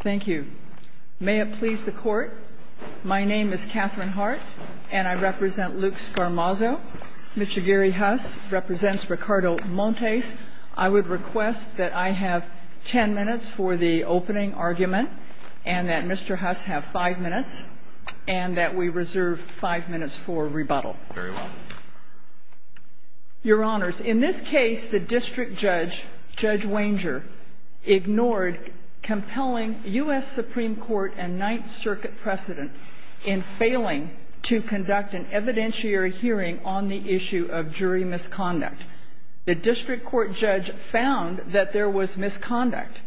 Thank you. May it please the court. My name is Catherine Hart, and I represent Luke Scarmazzo. Mr. Gary Huss represents Ricardo Montes. I would request that I have ten minutes for the opening argument, and that Mr. Huss have five minutes, and that we reserve five minutes for rebuttal. Very well. Your Honors, in this case, the district judge, Judge Wanger, ignored compelling U.S. Supreme Court and Ninth Circuit precedent in failing to conduct an evidentiary hearing on the issue of jury misconduct. The district court judge found that there was misconduct.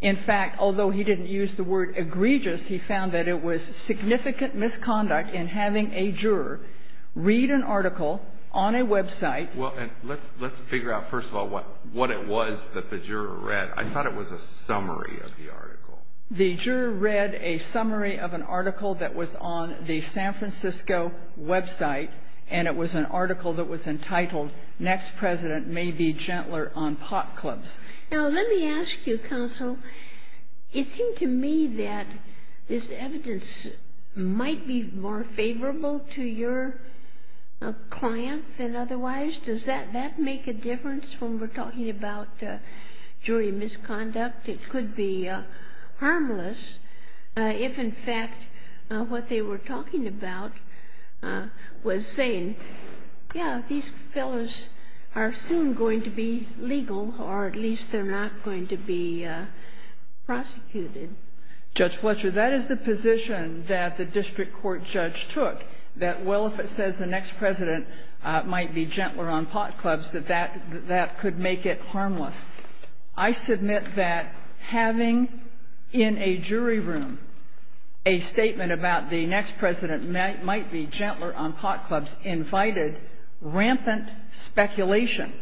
In fact, although he didn't use the word egregious, he found that it was significant misconduct in having a juror read an article on a website. Well, let's figure out, first of all, what it was that the juror read. I thought it was a summary of the article. The juror read a summary of an article that was on the San Francisco website, and it was an article that was entitled, Next President May Be Gentler on Pot Clubs. Now, let me ask you, Counsel, it seemed to me that this evidence might be more favorable to your client than otherwise. Does that make a difference when we're talking about jury misconduct? It could be harmless if, in fact, what they were talking about was saying, yeah, these fellows are soon going to be legal, or at least they're not going to be prosecuted. Judge Fletcher, that is the position that the district court judge took, that, well, if it says the next president might be gentler on pot clubs, that that could make it harmless. I submit that having in a jury room a statement about the next president might be gentler on pot clubs invited rampant speculation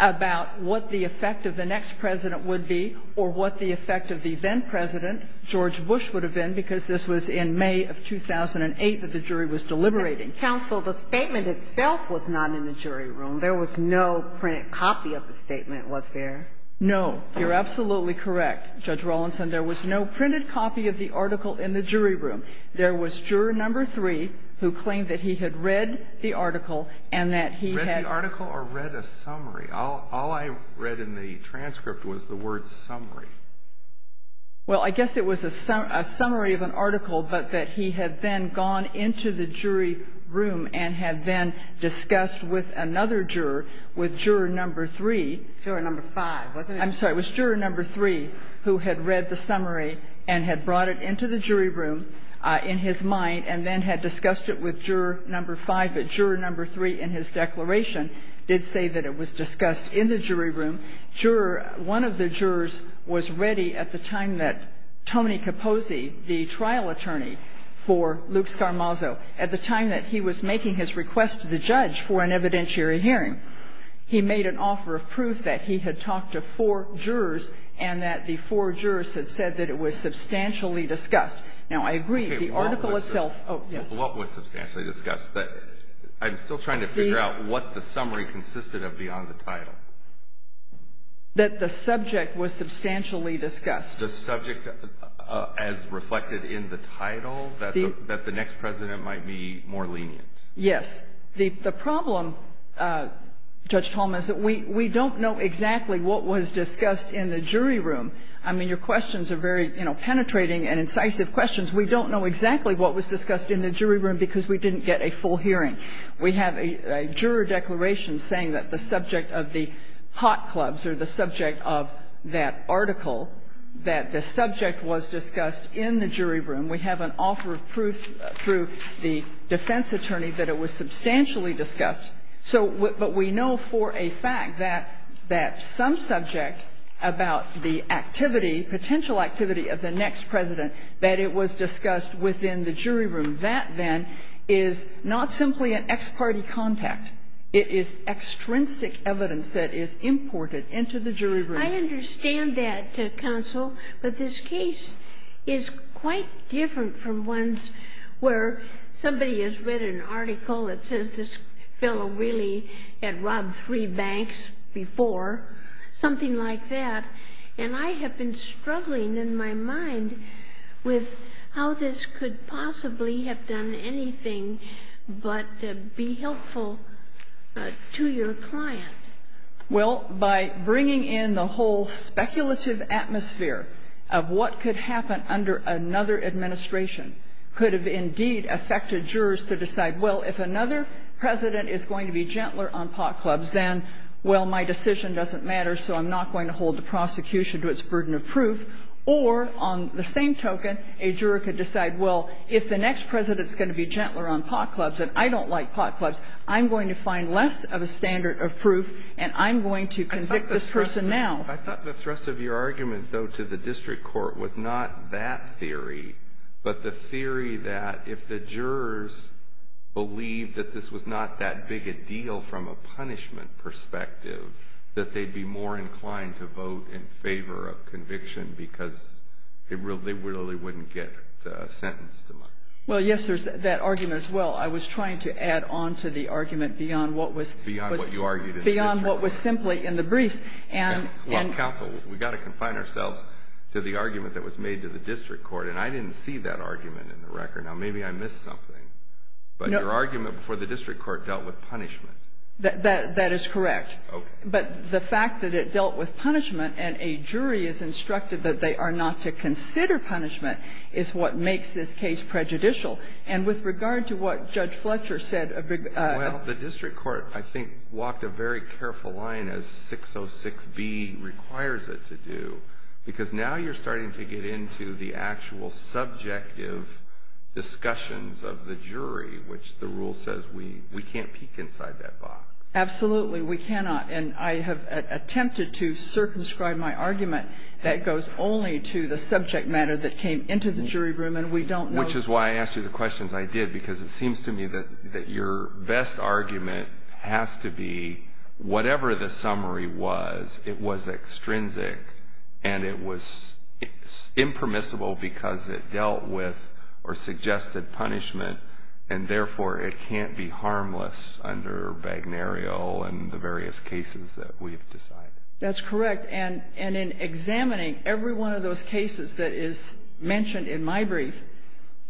about what the effect of the next president would be or what the effect of the then-president, George Bush, would have been, because this was in May of 2008 that the jury was deliberating. Counsel, the statement itself was not in the jury room. There was no printed copy of the statement, was there? No. You're absolutely correct, Judge Rawlinson. There was no printed copy of the article in the jury room. There was juror number three who claimed that he had read the article and that he had ---- Read the article or read a summary? All I read in the transcript was the word summary. Well, I guess it was a summary of an article, but that he had then gone into the jury room and had then discussed with another juror, with juror number three. Juror number five, wasn't it? I'm sorry. It was juror number three who had read the summary and had brought it into the jury room in his mind and then had discussed it with juror number five, but juror number three in his declaration did say that it was discussed in the jury room. Juror one of the jurors was ready at the time that Tony Capozzi, the trial attorney for Luke Scarmazzo, at the time that he was making his request to the judge for an evidentiary hearing, he made an offer of proof that he had talked to four jurors and that the four jurors had said that it was substantially discussed. Now, I agree, the article itself ---- Okay. What was substantially discussed? I'm still trying to figure out what the summary consisted of beyond the title. That the subject was substantially discussed. The subject as reflected in the title, that the next President might be more lenient. Yes. The problem, Judge Tolman, is that we don't know exactly what was discussed in the jury room. I mean, your questions are very, you know, penetrating and incisive questions. We don't know exactly what was discussed in the jury room because we didn't get a full hearing. We have a juror declaration saying that the subject of the hot clubs or the subject of that article, that the subject was discussed in the jury room. We have an offer of proof through the defense attorney that it was substantially discussed. So we know for a fact that some subject about the activity, potential activity of the next President, that it was discussed within the jury room. That, then, is not simply an ex parte contact. It is extrinsic evidence that is imported into the jury room. I understand that, Counsel. But this case is quite different from ones where somebody has read an article that says this fellow really had robbed three banks before. Something like that. And I have been struggling in my mind with how this could possibly have done anything but be helpful to your client. Well, by bringing in the whole speculative atmosphere of what could happen under another administration could have, indeed, affected jurors to decide, well, if another President is going to be gentler on pot clubs, then, well, my decision doesn't matter, so I'm not going to hold the prosecution to its burden of proof. Or, on the same token, a juror could decide, well, if the next President is going to be gentler on pot clubs, and I don't like pot clubs, I'm going to find less of a standard of proof, and I'm going to convict this person now. I thought the thrust of your argument, though, to the district court was not that theory, but the theory that if the jurors believed that this was not that big a deal from a punishment perspective, that they'd be more inclined to vote in favor of Well, yes, there's that argument as well. I was trying to add on to the argument beyond what was simply in the briefs. Well, counsel, we've got to confine ourselves to the argument that was made to the district court, and I didn't see that argument in the record. Now, maybe I missed something, but your argument before the district court dealt with punishment. That is correct. Okay. But the fact that it dealt with punishment and a jury is instructed that they are punishment is what makes this case prejudicial. And with regard to what Judge Fletcher said Well, the district court, I think, walked a very careful line as 606B requires it to do, because now you're starting to get into the actual subjective discussions of the jury, which the rule says we can't peek inside that box. Absolutely, we cannot. And I have attempted to circumscribe my argument that goes only to the subject matter that came into the jury room, and we don't know Which is why I asked you the questions I did, because it seems to me that your best argument has to be whatever the summary was, it was extrinsic, and it was impermissible because it dealt with or suggested punishment, and therefore it can't be harmless under Bagnerio and the various cases that we have decided. That's correct. And in examining every one of those cases that is mentioned in my brief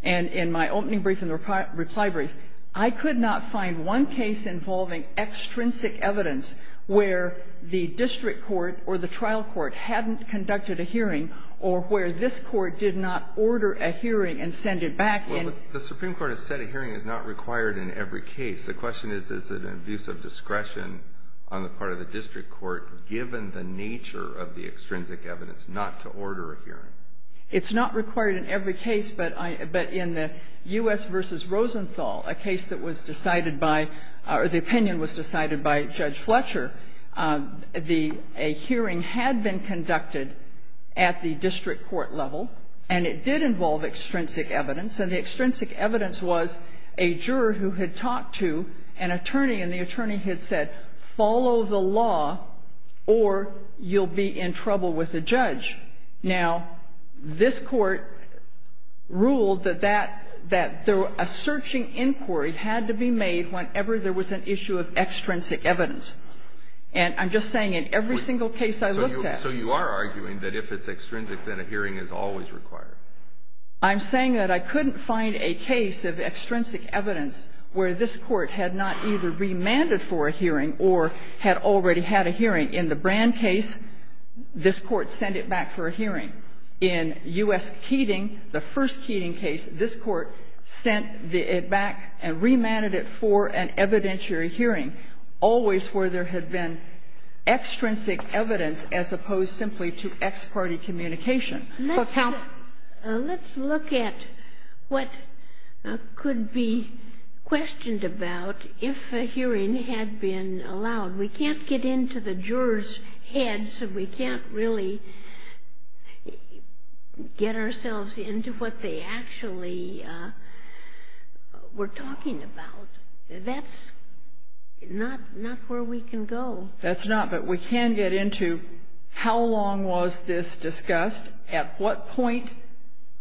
and in my opening brief and reply brief, I could not find one case involving extrinsic evidence where the district court or the trial court hadn't conducted a hearing or where this court did not order a hearing and send it back in. Well, the Supreme Court has said a hearing is not required in every case. The question is, is it an abuse of discretion on the part of the district court, given the nature of the extrinsic evidence, not to order a hearing? It's not required in every case, but in the U.S. v. Rosenthal, a case that was decided by or the opinion was decided by Judge Fletcher, a hearing had been conducted at the district court level, and it did involve extrinsic evidence. And the extrinsic evidence was a juror who had talked to an attorney, and the attorney had said, follow the law, or you'll be in trouble with the judge. Now, this court ruled that that – that a searching inquiry had to be made whenever there was an issue of extrinsic evidence. And I'm just saying in every single case I looked at. So you are arguing that if it's extrinsic, then a hearing is always required. I'm saying that I couldn't find a case of extrinsic evidence where this Court had not either remanded for a hearing or had already had a hearing. In the Brand case, this Court sent it back for a hearing. In U.S. Keating, the first Keating case, this Court sent it back and remanded it for an evidentiary hearing, always where there had been extrinsic evidence as opposed simply to ex parte communication. So count – Let's look at what could be questioned about if a hearing had been allowed. We can't get into the juror's head, so we can't really get ourselves into what they actually were talking about. That's not – not where we can go. That's not. But we can get into how long was this discussed, at what point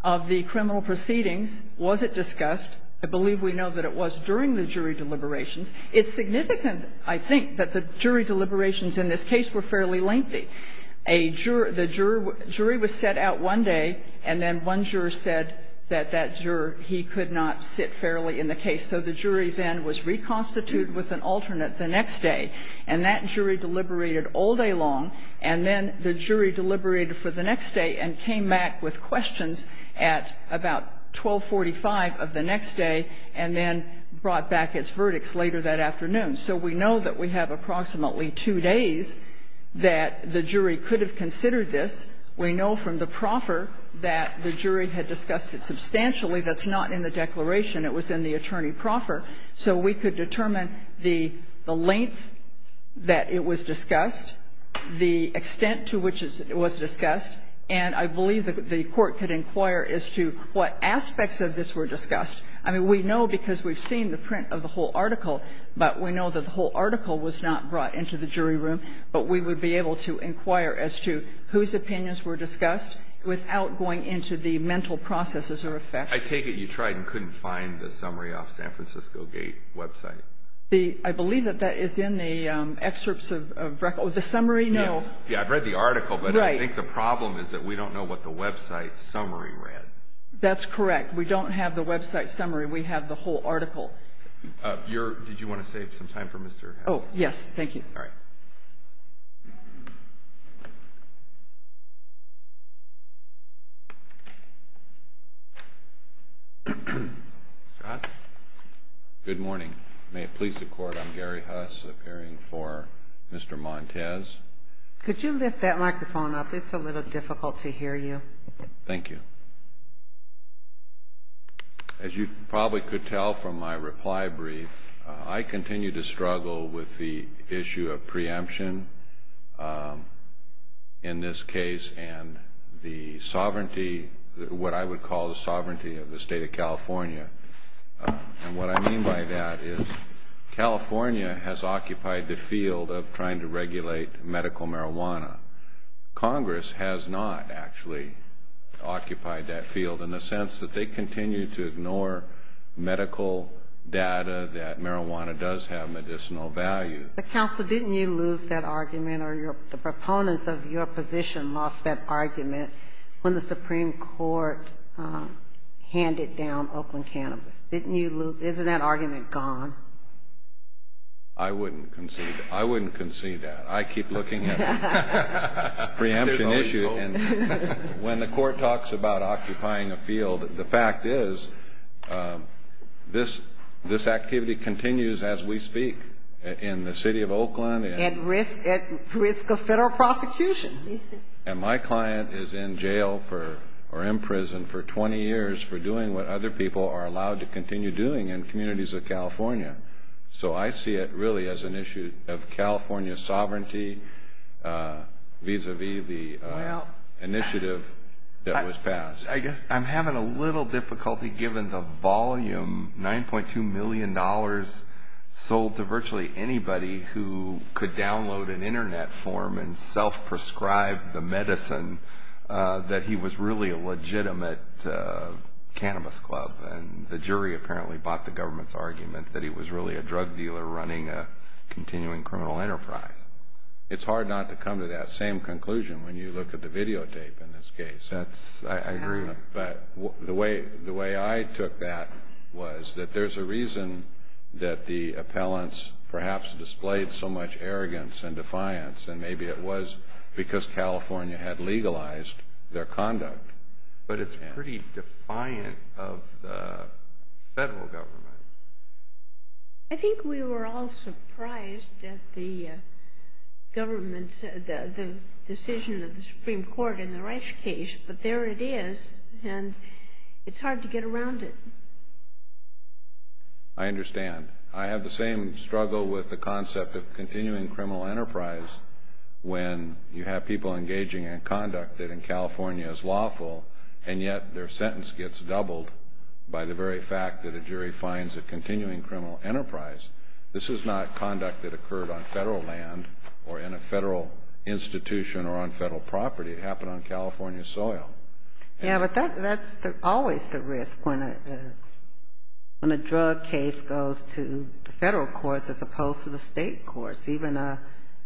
of the criminal proceedings was it discussed. I believe we know that it was during the jury deliberations. It's significant, I think, that the jury deliberations in this case were fairly lengthy. A juror – the jury was set out one day, and then one juror said that that juror, he could not sit fairly in the case. So the jury then was reconstituted with an alternate the next day. And that jury deliberated all day long, and then the jury deliberated for the next day and came back with questions at about 1245 of the next day, and then brought back its verdicts later that afternoon. So we know that we have approximately two days that the jury could have considered this. We know from the proffer that the jury had discussed it substantially. That's not in the declaration. It was in the attorney proffer. So we could determine the lengths that it was discussed, the extent to which it was discussed, and I believe that the Court could inquire as to what aspects of this were discussed. I mean, we know because we've seen the print of the whole article, but we know that the whole article was not brought into the jury room, but we would be able to inquire as to whose opinions were discussed without going into the mental processes or effects. I take it you tried and couldn't find the summary off San Francisco Gate website. I believe that that is in the excerpts of the summary. No. I've read the article, but I think the problem is that we don't know what the website summary read. That's correct. We don't have the website summary. We have the whole article. Did you want to save some time for Mr. Hatch? Oh, yes. All right. Mr. Hatch? Good morning. May it please the Court, I'm Gary Hatch, appearing for Mr. Montes. Could you lift that microphone up? It's a little difficult to hear you. Thank you. As you probably could tell from my reply brief, I continue to struggle with the issue of preemption in this case and the sovereignty, what I would call the sovereignty of the State of California. And what I mean by that is California has occupied the field of trying to regulate medical marijuana. Congress has not actually occupied that field in the sense that they continue to ignore medical data that marijuana does have medicinal value. But, Counsel, didn't you lose that argument or the proponents of your position lost that argument when the Supreme Court handed down Oakland Cannabis? Didn't you lose? Isn't that argument gone? I wouldn't concede that. I wouldn't concede that. I keep looking at the preemption issue. There's always hope. And when the Court talks about occupying a field, the fact is this activity continues as we speak in the city of Oakland. At risk of federal prosecution. And my client is in jail or in prison for 20 years for doing what other people are allowed to continue doing in communities of California. So I see it really as an issue of California's sovereignty vis-a-vis the initiative that was passed. I'm having a little difficulty given the volume. $9.2 million sold to virtually anybody who could download an internet form and self-prescribe the medicine that he was really a legitimate cannabis club. And the jury apparently bought the government's argument that he was really a drug dealer running a continuing criminal enterprise. It's hard not to come to that same conclusion when you look at the videotape in this case. I agree. But the way I took that was that there's a reason that the appellants perhaps displayed so much arrogance and defiance. And maybe it was because California had legalized their conduct. But it's pretty defiant of the federal government. I think we were all surprised at the government's decision of the Supreme Court in the Reich case. But there it is. And it's hard to get around it. I understand. I have the same struggle with the concept of continuing criminal enterprise when you have people engaging in conduct that in California is lawful, and yet their sentence gets doubled by the very fact that a jury finds a continuing criminal enterprise. This is not conduct that occurred on federal land or in a federal institution or on federal property. It happened on California soil. Yeah, but that's always the risk when a drug case goes to the federal courts as opposed to the state courts. Even a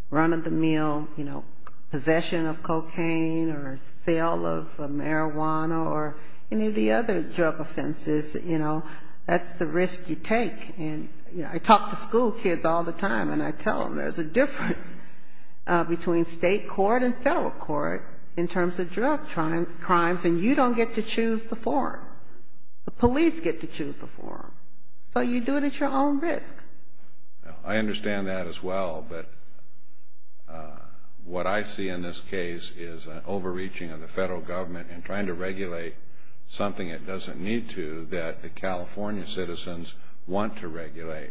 run-of-the-mill, you know, possession of cocaine or sale of marijuana or any of the other drug offenses, you know, that's the risk you take. And, you know, I talk to school kids all the time, and I tell them there's a difference between state court and federal court in terms of drug crimes. And you don't get to choose the form. The police get to choose the form. So you do it at your own risk. I understand that as well. But what I see in this case is an overreaching of the federal government in trying to regulate something it doesn't need to that the California citizens want to regulate.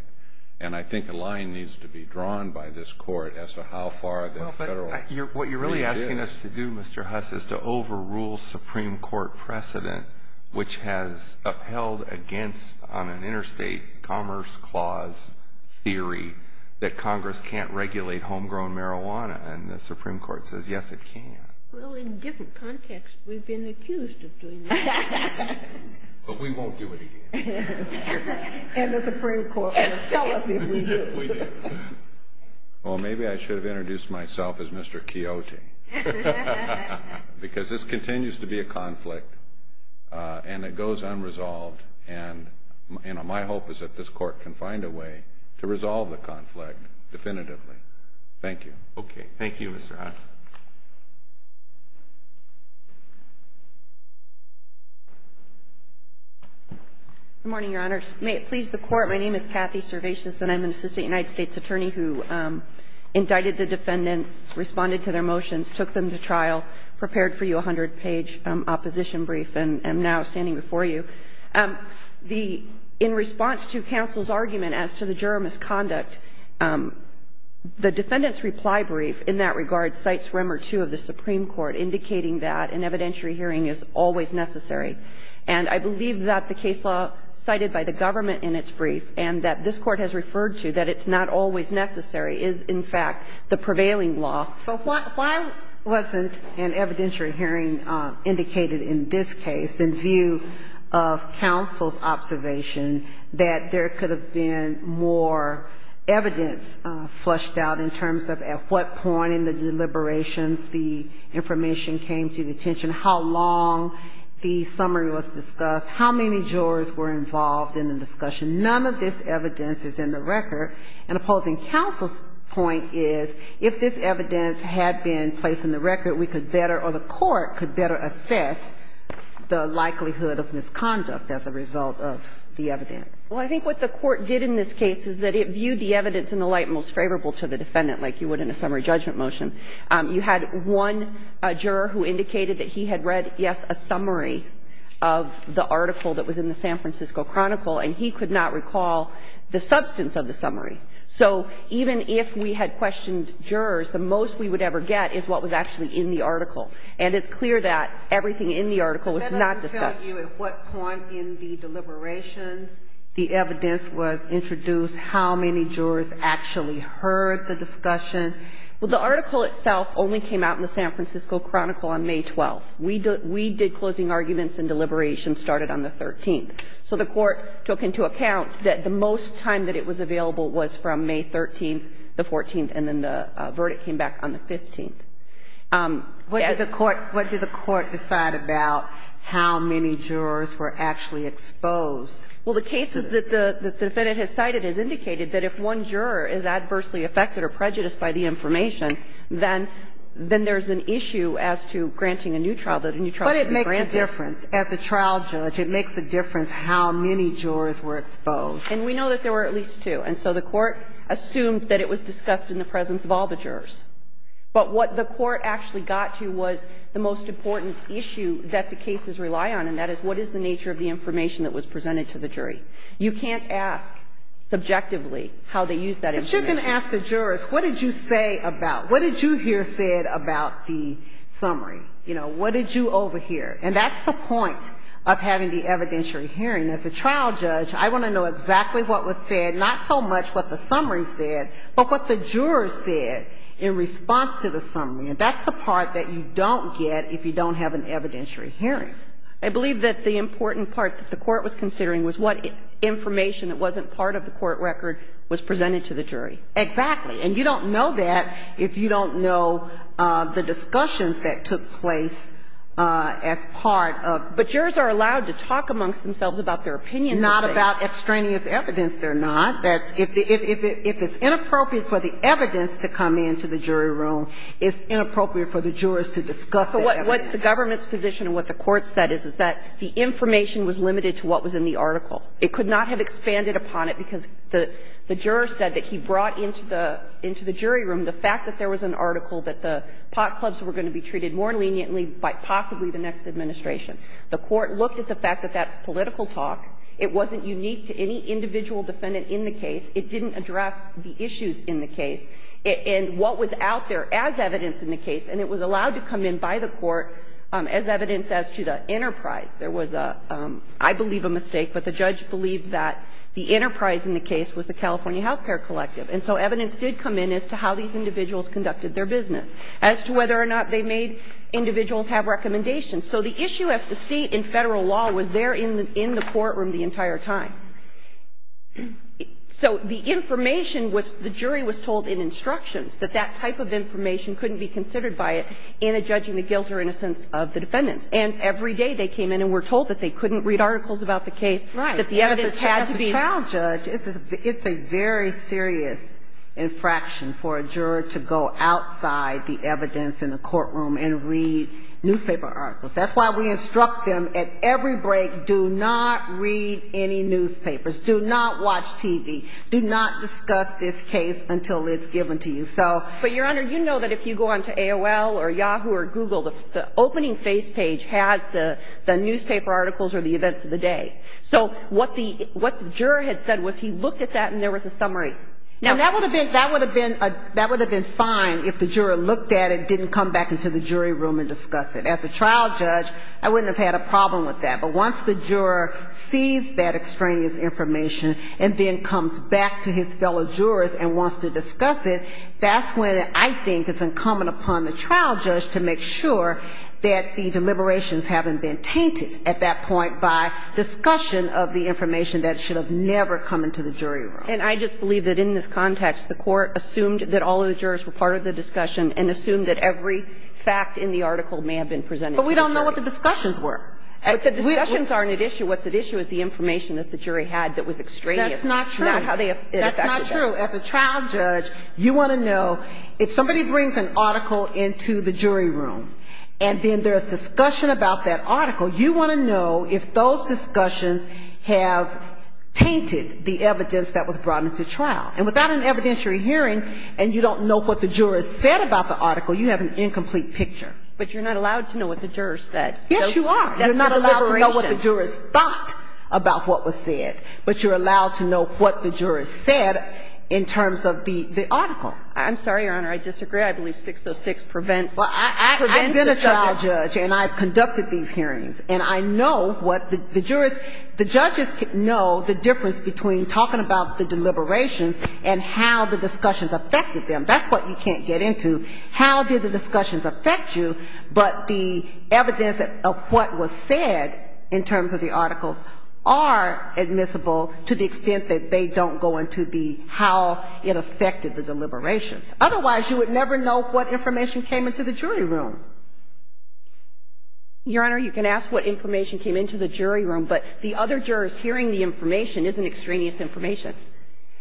And I think a line needs to be drawn by this court as to how far the federal... But what you're really asking us to do, Mr. Huss, is to overrule Supreme Court precedent, which has upheld against on an interstate commerce clause theory that Congress can't regulate homegrown marijuana. And the Supreme Court says, yes, it can. Well, in different contexts, we've been accused of doing that. But we won't do it again. And the Supreme Court will tell us if we do. Well, maybe I should have introduced myself as Mr. Chioti. Because this continues to be a conflict, and it goes unresolved. And my hope is that this court can find a way to resolve the conflict definitively. Thank you. Okay. Thank you, Mr. Huss. Good morning, Your Honors. May it please the Court, my name is Kathy Servatius, and I'm an assistant United States attorney who indicted the defendants, responded to their motions, took them to trial, prepared for you a 100-page opposition brief, and am now standing before you. The — in response to counsel's argument as to the juror misconduct, the defendant's reply brief in that regard cites Remmer II of the Supreme Court, indicating that an evidentiary hearing is always necessary. And I believe that the case law cited by the government in its brief, and that this Court has referred to, that it's not always necessary, is in fact the prevailing law. So why wasn't an evidentiary hearing indicated in this case in view of counsel's observation that there could have been more evidence flushed out in terms of at what point in the deliberations the information came to the attention, how long the summary was discussed, how many jurors were involved in the discussion? None of this evidence is in the record. And opposing counsel's point is if this evidence had been placed in the record, we could better, or the Court could better assess the likelihood of misconduct as a result of the evidence. Well, I think what the Court did in this case is that it viewed the evidence in the light most favorable to the defendant, like you would in a summary judgment motion. You had one juror who indicated that he had read, yes, a summary of the article that was in the San Francisco Chronicle, and he could not recall the substance of the summary. So even if we had questioned jurors, the most we would ever get is what was actually in the article. And it's clear that everything in the article was not discussed. Now, can you tell us at what point in the deliberations the evidence was introduced, how many jurors actually heard the discussion? Well, the article itself only came out in the San Francisco Chronicle on May 12th. We did closing arguments and deliberations started on the 13th. So the Court took into account that the most time that it was available was from May 13th to 14th, and then the verdict came back on the 15th. What did the Court decide about how many jurors were actually exposed? Well, the cases that the defendant has cited has indicated that if one juror is adversely affected or prejudiced by the information, then there's an issue as to granting a new trial, that a new trial can be granted. But it makes a difference. As a trial judge, it makes a difference how many jurors were exposed. And we know that there were at least two. And so the Court assumed that it was discussed in the presence of all the jurors. But what the Court actually got to was the most important issue that the cases rely on, and that is what is the nature of the information that was presented to the jury? You can't ask subjectively how they used that information. But you can ask the jurors, what did you say about, what did you hear said about the summary? You know, what did you overhear? And that's the point of having the evidentiary hearing. As a trial judge, I want to know exactly what was said, not so much what the summary said, but what the jurors said in response to the summary. And that's the part that you don't get if you don't have an evidentiary hearing. I believe that the important part that the Court was considering was what information that wasn't part of the court record was presented to the jury. Exactly. And you don't know that if you don't know the discussions that took place as part of the case. But jurors are allowed to talk amongst themselves about their opinions. Not about extraneous evidence, they're not. If it's inappropriate for the evidence to come into the jury room, it's inappropriate for the jurors to discuss that evidence. So what the government's position and what the Court said is, is that the information was limited to what was in the article. It could not have expanded upon it because the juror said that he brought into the jury room the fact that there was an article that the pot clubs were going to be treated more leniently by possibly the next administration. The Court looked at the fact that that's political talk. It wasn't unique to any individual defendant in the case. It didn't address the issues in the case. And what was out there as evidence in the case, and it was allowed to come in by the Court as evidence as to the enterprise. There was a, I believe a mistake, but the judge believed that the enterprise in the case was the California Health Care Collective. And so evidence did come in as to how these individuals conducted their business, as to whether or not they made individuals have recommendations. So the issue as to state and Federal law was there in the courtroom the entire time. So the information was the jury was told in instructions that that type of information couldn't be considered by it in a judging the guilt or innocence of the defendants. And every day they came in and were told that they couldn't read articles about the case, that the evidence had to be in the courtroom. Ginsburg. As a child judge, it's a very serious infraction for a juror to go outside the evidence in the courtroom and read newspaper articles. That's why we instruct them at every break, do not read any newspapers. Do not watch TV. Do not discuss this case until it's given to you. So. But, Your Honor, you know that if you go on to AOL or Yahoo or Google, the opening face page has the newspaper articles or the events of the day. So what the juror had said was he looked at that and there was a summary. And that would have been fine if the juror looked at it, didn't come back into the jury room and discuss it. As a trial judge, I wouldn't have had a problem with that. But once the juror sees that extraneous information and then comes back to his fellow jurors and wants to discuss it, that's when I think it's incumbent upon the trial judge to make sure that the deliberations haven't been tainted at that point by discussion of the information that should have never come into the jury room. And I just believe that in this context, the Court assumed that all of the jurors were part of the discussion and assumed that every fact in the article may have been presented to the jury. But we don't know what the discussions were. But the discussions aren't at issue. What's at issue is the information that the jury had that was extraneous. That's not true. That's not how they affected that. That's not true. As a trial judge, you want to know if somebody brings an article into the jury room and then there's discussion about that article, you want to know if those discussions have tainted the evidence that was brought into trial. And without an evidentiary hearing and you don't know what the jurors said about the article, you have an incomplete picture. But you're not allowed to know what the jurors said. Yes, you are. You're not allowed to know what the jurors thought about what was said. But you're allowed to know what the jurors said in terms of the article. I'm sorry, Your Honor. I disagree. I believe 606 prevents the trial judge. And I've conducted these hearings. And I know what the jurors, the judges know the difference between talking about the deliberations and how the discussions affected them. That's what you can't get into, how did the discussions affect you, but the evidence of what was said in terms of the articles are admissible to the extent that they don't go into the how it affected the deliberations. Otherwise, you would never know what information came into the jury room. Your Honor, you can ask what information came into the jury room, but the other jurors hearing the information isn't extraneous information.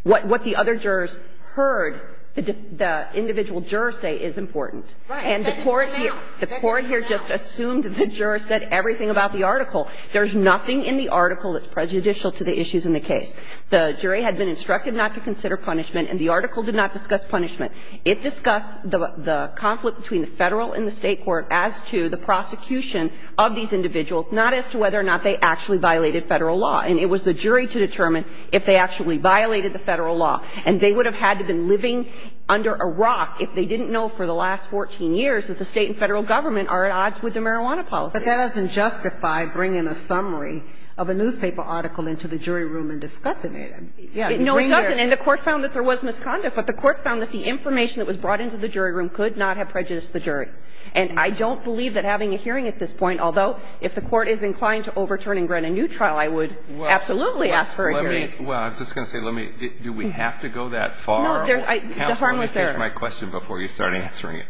What the other jurors heard the individual jurors say is important. And the Court here just assumed that the jurors said everything about the article. There's nothing in the article that's prejudicial to the issues in the case. The jury had been instructed not to consider punishment and the article did not discuss punishment. It discussed the conflict between the Federal and the State court as to the prosecution of these individuals, not as to whether or not they actually violated Federal law. And it was the jury to determine if they actually violated the Federal law. And they would have had to have been living under a rock if they didn't know for the last 14 years that the State and Federal government are at odds with the marijuana policy. But that doesn't justify bringing a summary of a newspaper article into the jury room and discussing it. No, it doesn't. And the Court found that there was misconduct, but the Court found that the information that was brought into the jury room could not have prejudiced the jury. And I don't believe that having a hearing at this point, although, if the Court is inclined to overturn and grant a new trial, I would absolutely ask for a hearing. Well, I was just going to say, do we have to go that far? No, the harm was there. Counsel, let me finish my question before you start answering it.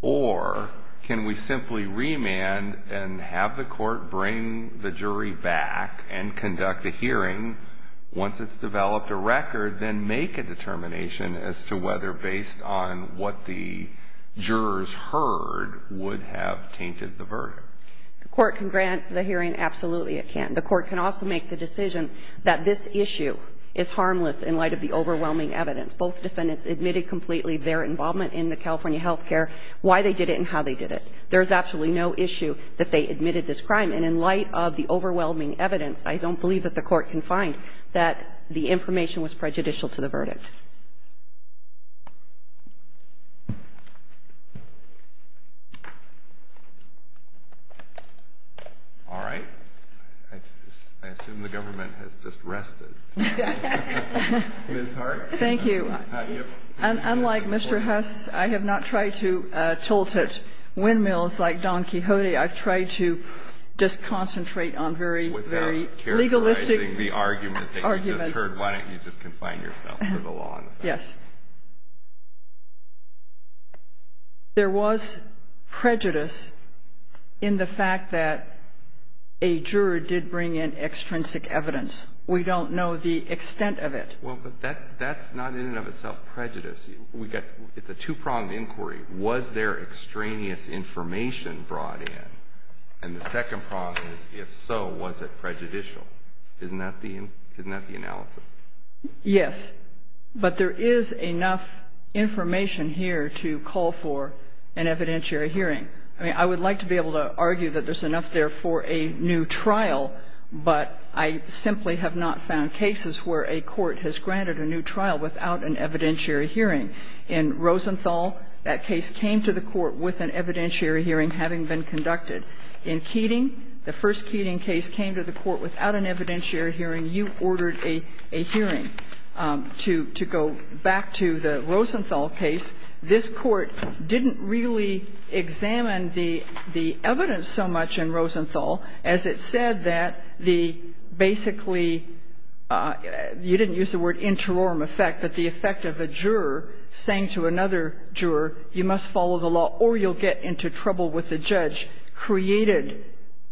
Or can we simply remand and have the Court bring the jury back and conduct a hearing once it's developed a record, then make a determination as to whether, based on what the jurors heard, would have tainted the verdict? The Court can grant the hearing. Absolutely, it can. The Court can also make the decision that this issue is harmless in light of the overwhelming evidence. Both defendants admitted completely their involvement in the California health care, why they did it and how they did it. There is absolutely no issue that they admitted this crime. And in light of the overwhelming evidence, I don't believe that the Court can find that the information was prejudicial to the verdict. All right. I assume the government has just rested. Ms. Hart. Thank you. Unlike Mr. Huss, I have not tried to tilt at windmills like Don Quixote. I've tried to just concentrate on very, very legalistic arguments. Without characterizing the argument that you just heard. Why don't you just confine yourself to the law? Yes. There was prejudice in the fact that a juror did bring in extrinsic evidence. We don't know the extent of it. Well, but that's not in and of itself prejudice. It's a two-pronged inquiry. Was there extraneous information brought in? And the second prong is, if so, was it prejudicial? Isn't that the analysis? Yes. But there is enough information here to call for an evidentiary hearing. I mean, I would like to be able to argue that there's enough there for a new trial, but I simply have not found cases where a court has granted a new trial without an evidentiary hearing. In Rosenthal, that case came to the court with an evidentiary hearing having been conducted. In Keating, the first Keating case came to the court without an evidentiary hearing. You ordered a hearing. To go back to the Rosenthal case, this Court didn't really examine the evidence so much in Rosenthal as it said that the basically you didn't use the word interorum effect, but the effect of a juror saying to another juror, you must follow the law or you'll get into trouble with the judge, created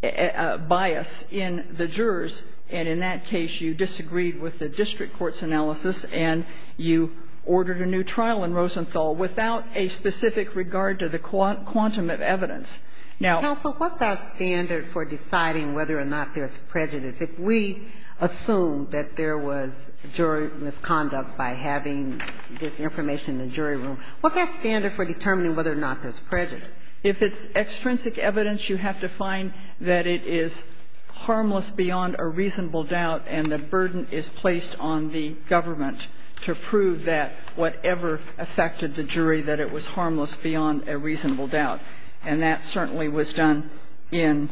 a bias in the jurors. And in that case, you disagreed with the district court's analysis and you ordered a new trial in Rosenthal without a specific regard to the quantum of evidence. Now so what's our standard for deciding whether or not there's prejudice? If we assume that there was jury misconduct by having this information in the jury room, what's our standard for determining whether or not there's prejudice? If it's extrinsic evidence, you have to find that it is harmless beyond a reasonable doubt and the burden is placed on the government to prove that whatever affected the jury that it was harmless beyond a reasonable doubt. And that certainly was done in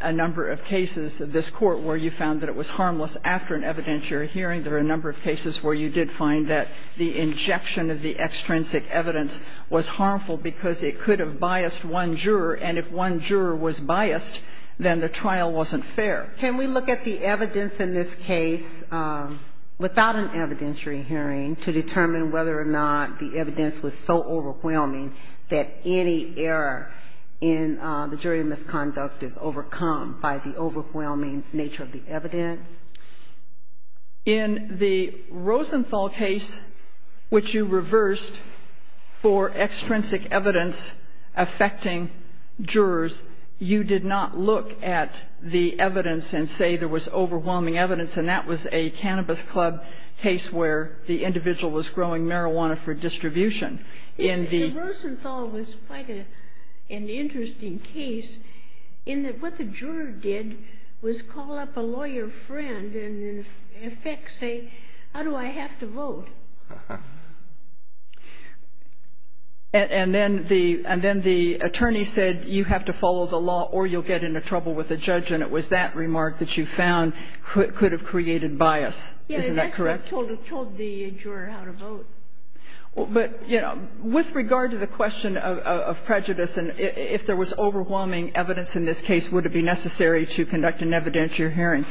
a number of cases of this Court where you found that it was harmless after an evidentiary hearing. There are a number of cases where you did find that the injection of the extrinsic evidence was harmful because it could have biased one juror, and if one juror was biased, then the trial wasn't fair. Can we look at the evidence in this case without an evidentiary hearing to determine whether or not the evidence was so overwhelming that any error in the jury misconduct is overcome by the overwhelming nature of the evidence? In the Rosenthal case, which you reversed for extrinsic evidence affecting jurors, you did not look at the evidence and say there was overwhelming evidence, and that was a reason for your decision. was overwhelming evidence, and that is the reason for doing marijuana for distribution. The Rosenthal was quite an interesting case in that what the juror did was call up a lawyer friend and, in effect, say how do I have to vote. And then the attorney said you have to follow the law or you'll get into trouble with the judge. And it was that remark that you found could have created bias. Isn't that correct? Yeah, and that's what told the juror how to vote. But, you know, with regard to the question of prejudice and if there was overwhelming evidence in this case, would it be necessary to conduct an evidentiary hearing,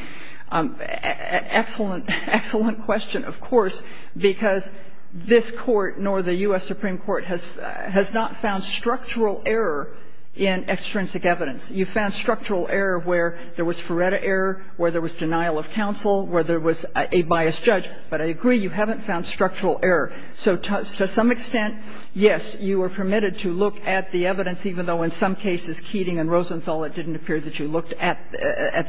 excellent, excellent question, of course, because this Court, nor the U.S. Supreme Court, has not found structural error in extrinsic evidence. You found structural error where there was Ferretta error, where there was denial of counsel, where there was a biased judge. But I agree you haven't found structural error. So to some extent, yes, you were permitted to look at the evidence, even though in some cases, Keating and Rosenthal, it didn't appear that you looked at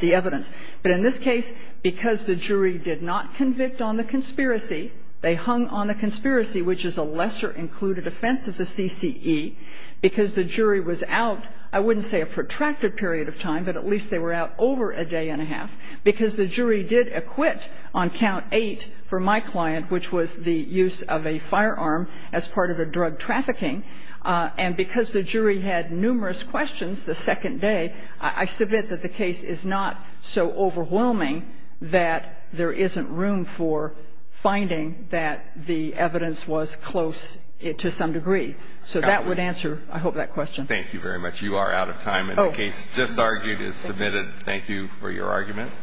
the evidence. But in this case, because the jury did not convict on the conspiracy, they hung on the conspiracy, which is a lesser included offense of the CCE, because the jury was out, I wouldn't say a protracted period of time, but at least they were out over a day and a half, because the jury did acquit on count eight for my client, which was the use of a firearm as part of the drug trafficking. And because the jury had numerous questions the second day, I submit that the case is not so overwhelming that there isn't room for finding that the evidence was close to some degree. So that would answer, I hope, that question. Thank you very much. You are out of time, and the case just argued is submitted. Thank you for your arguments.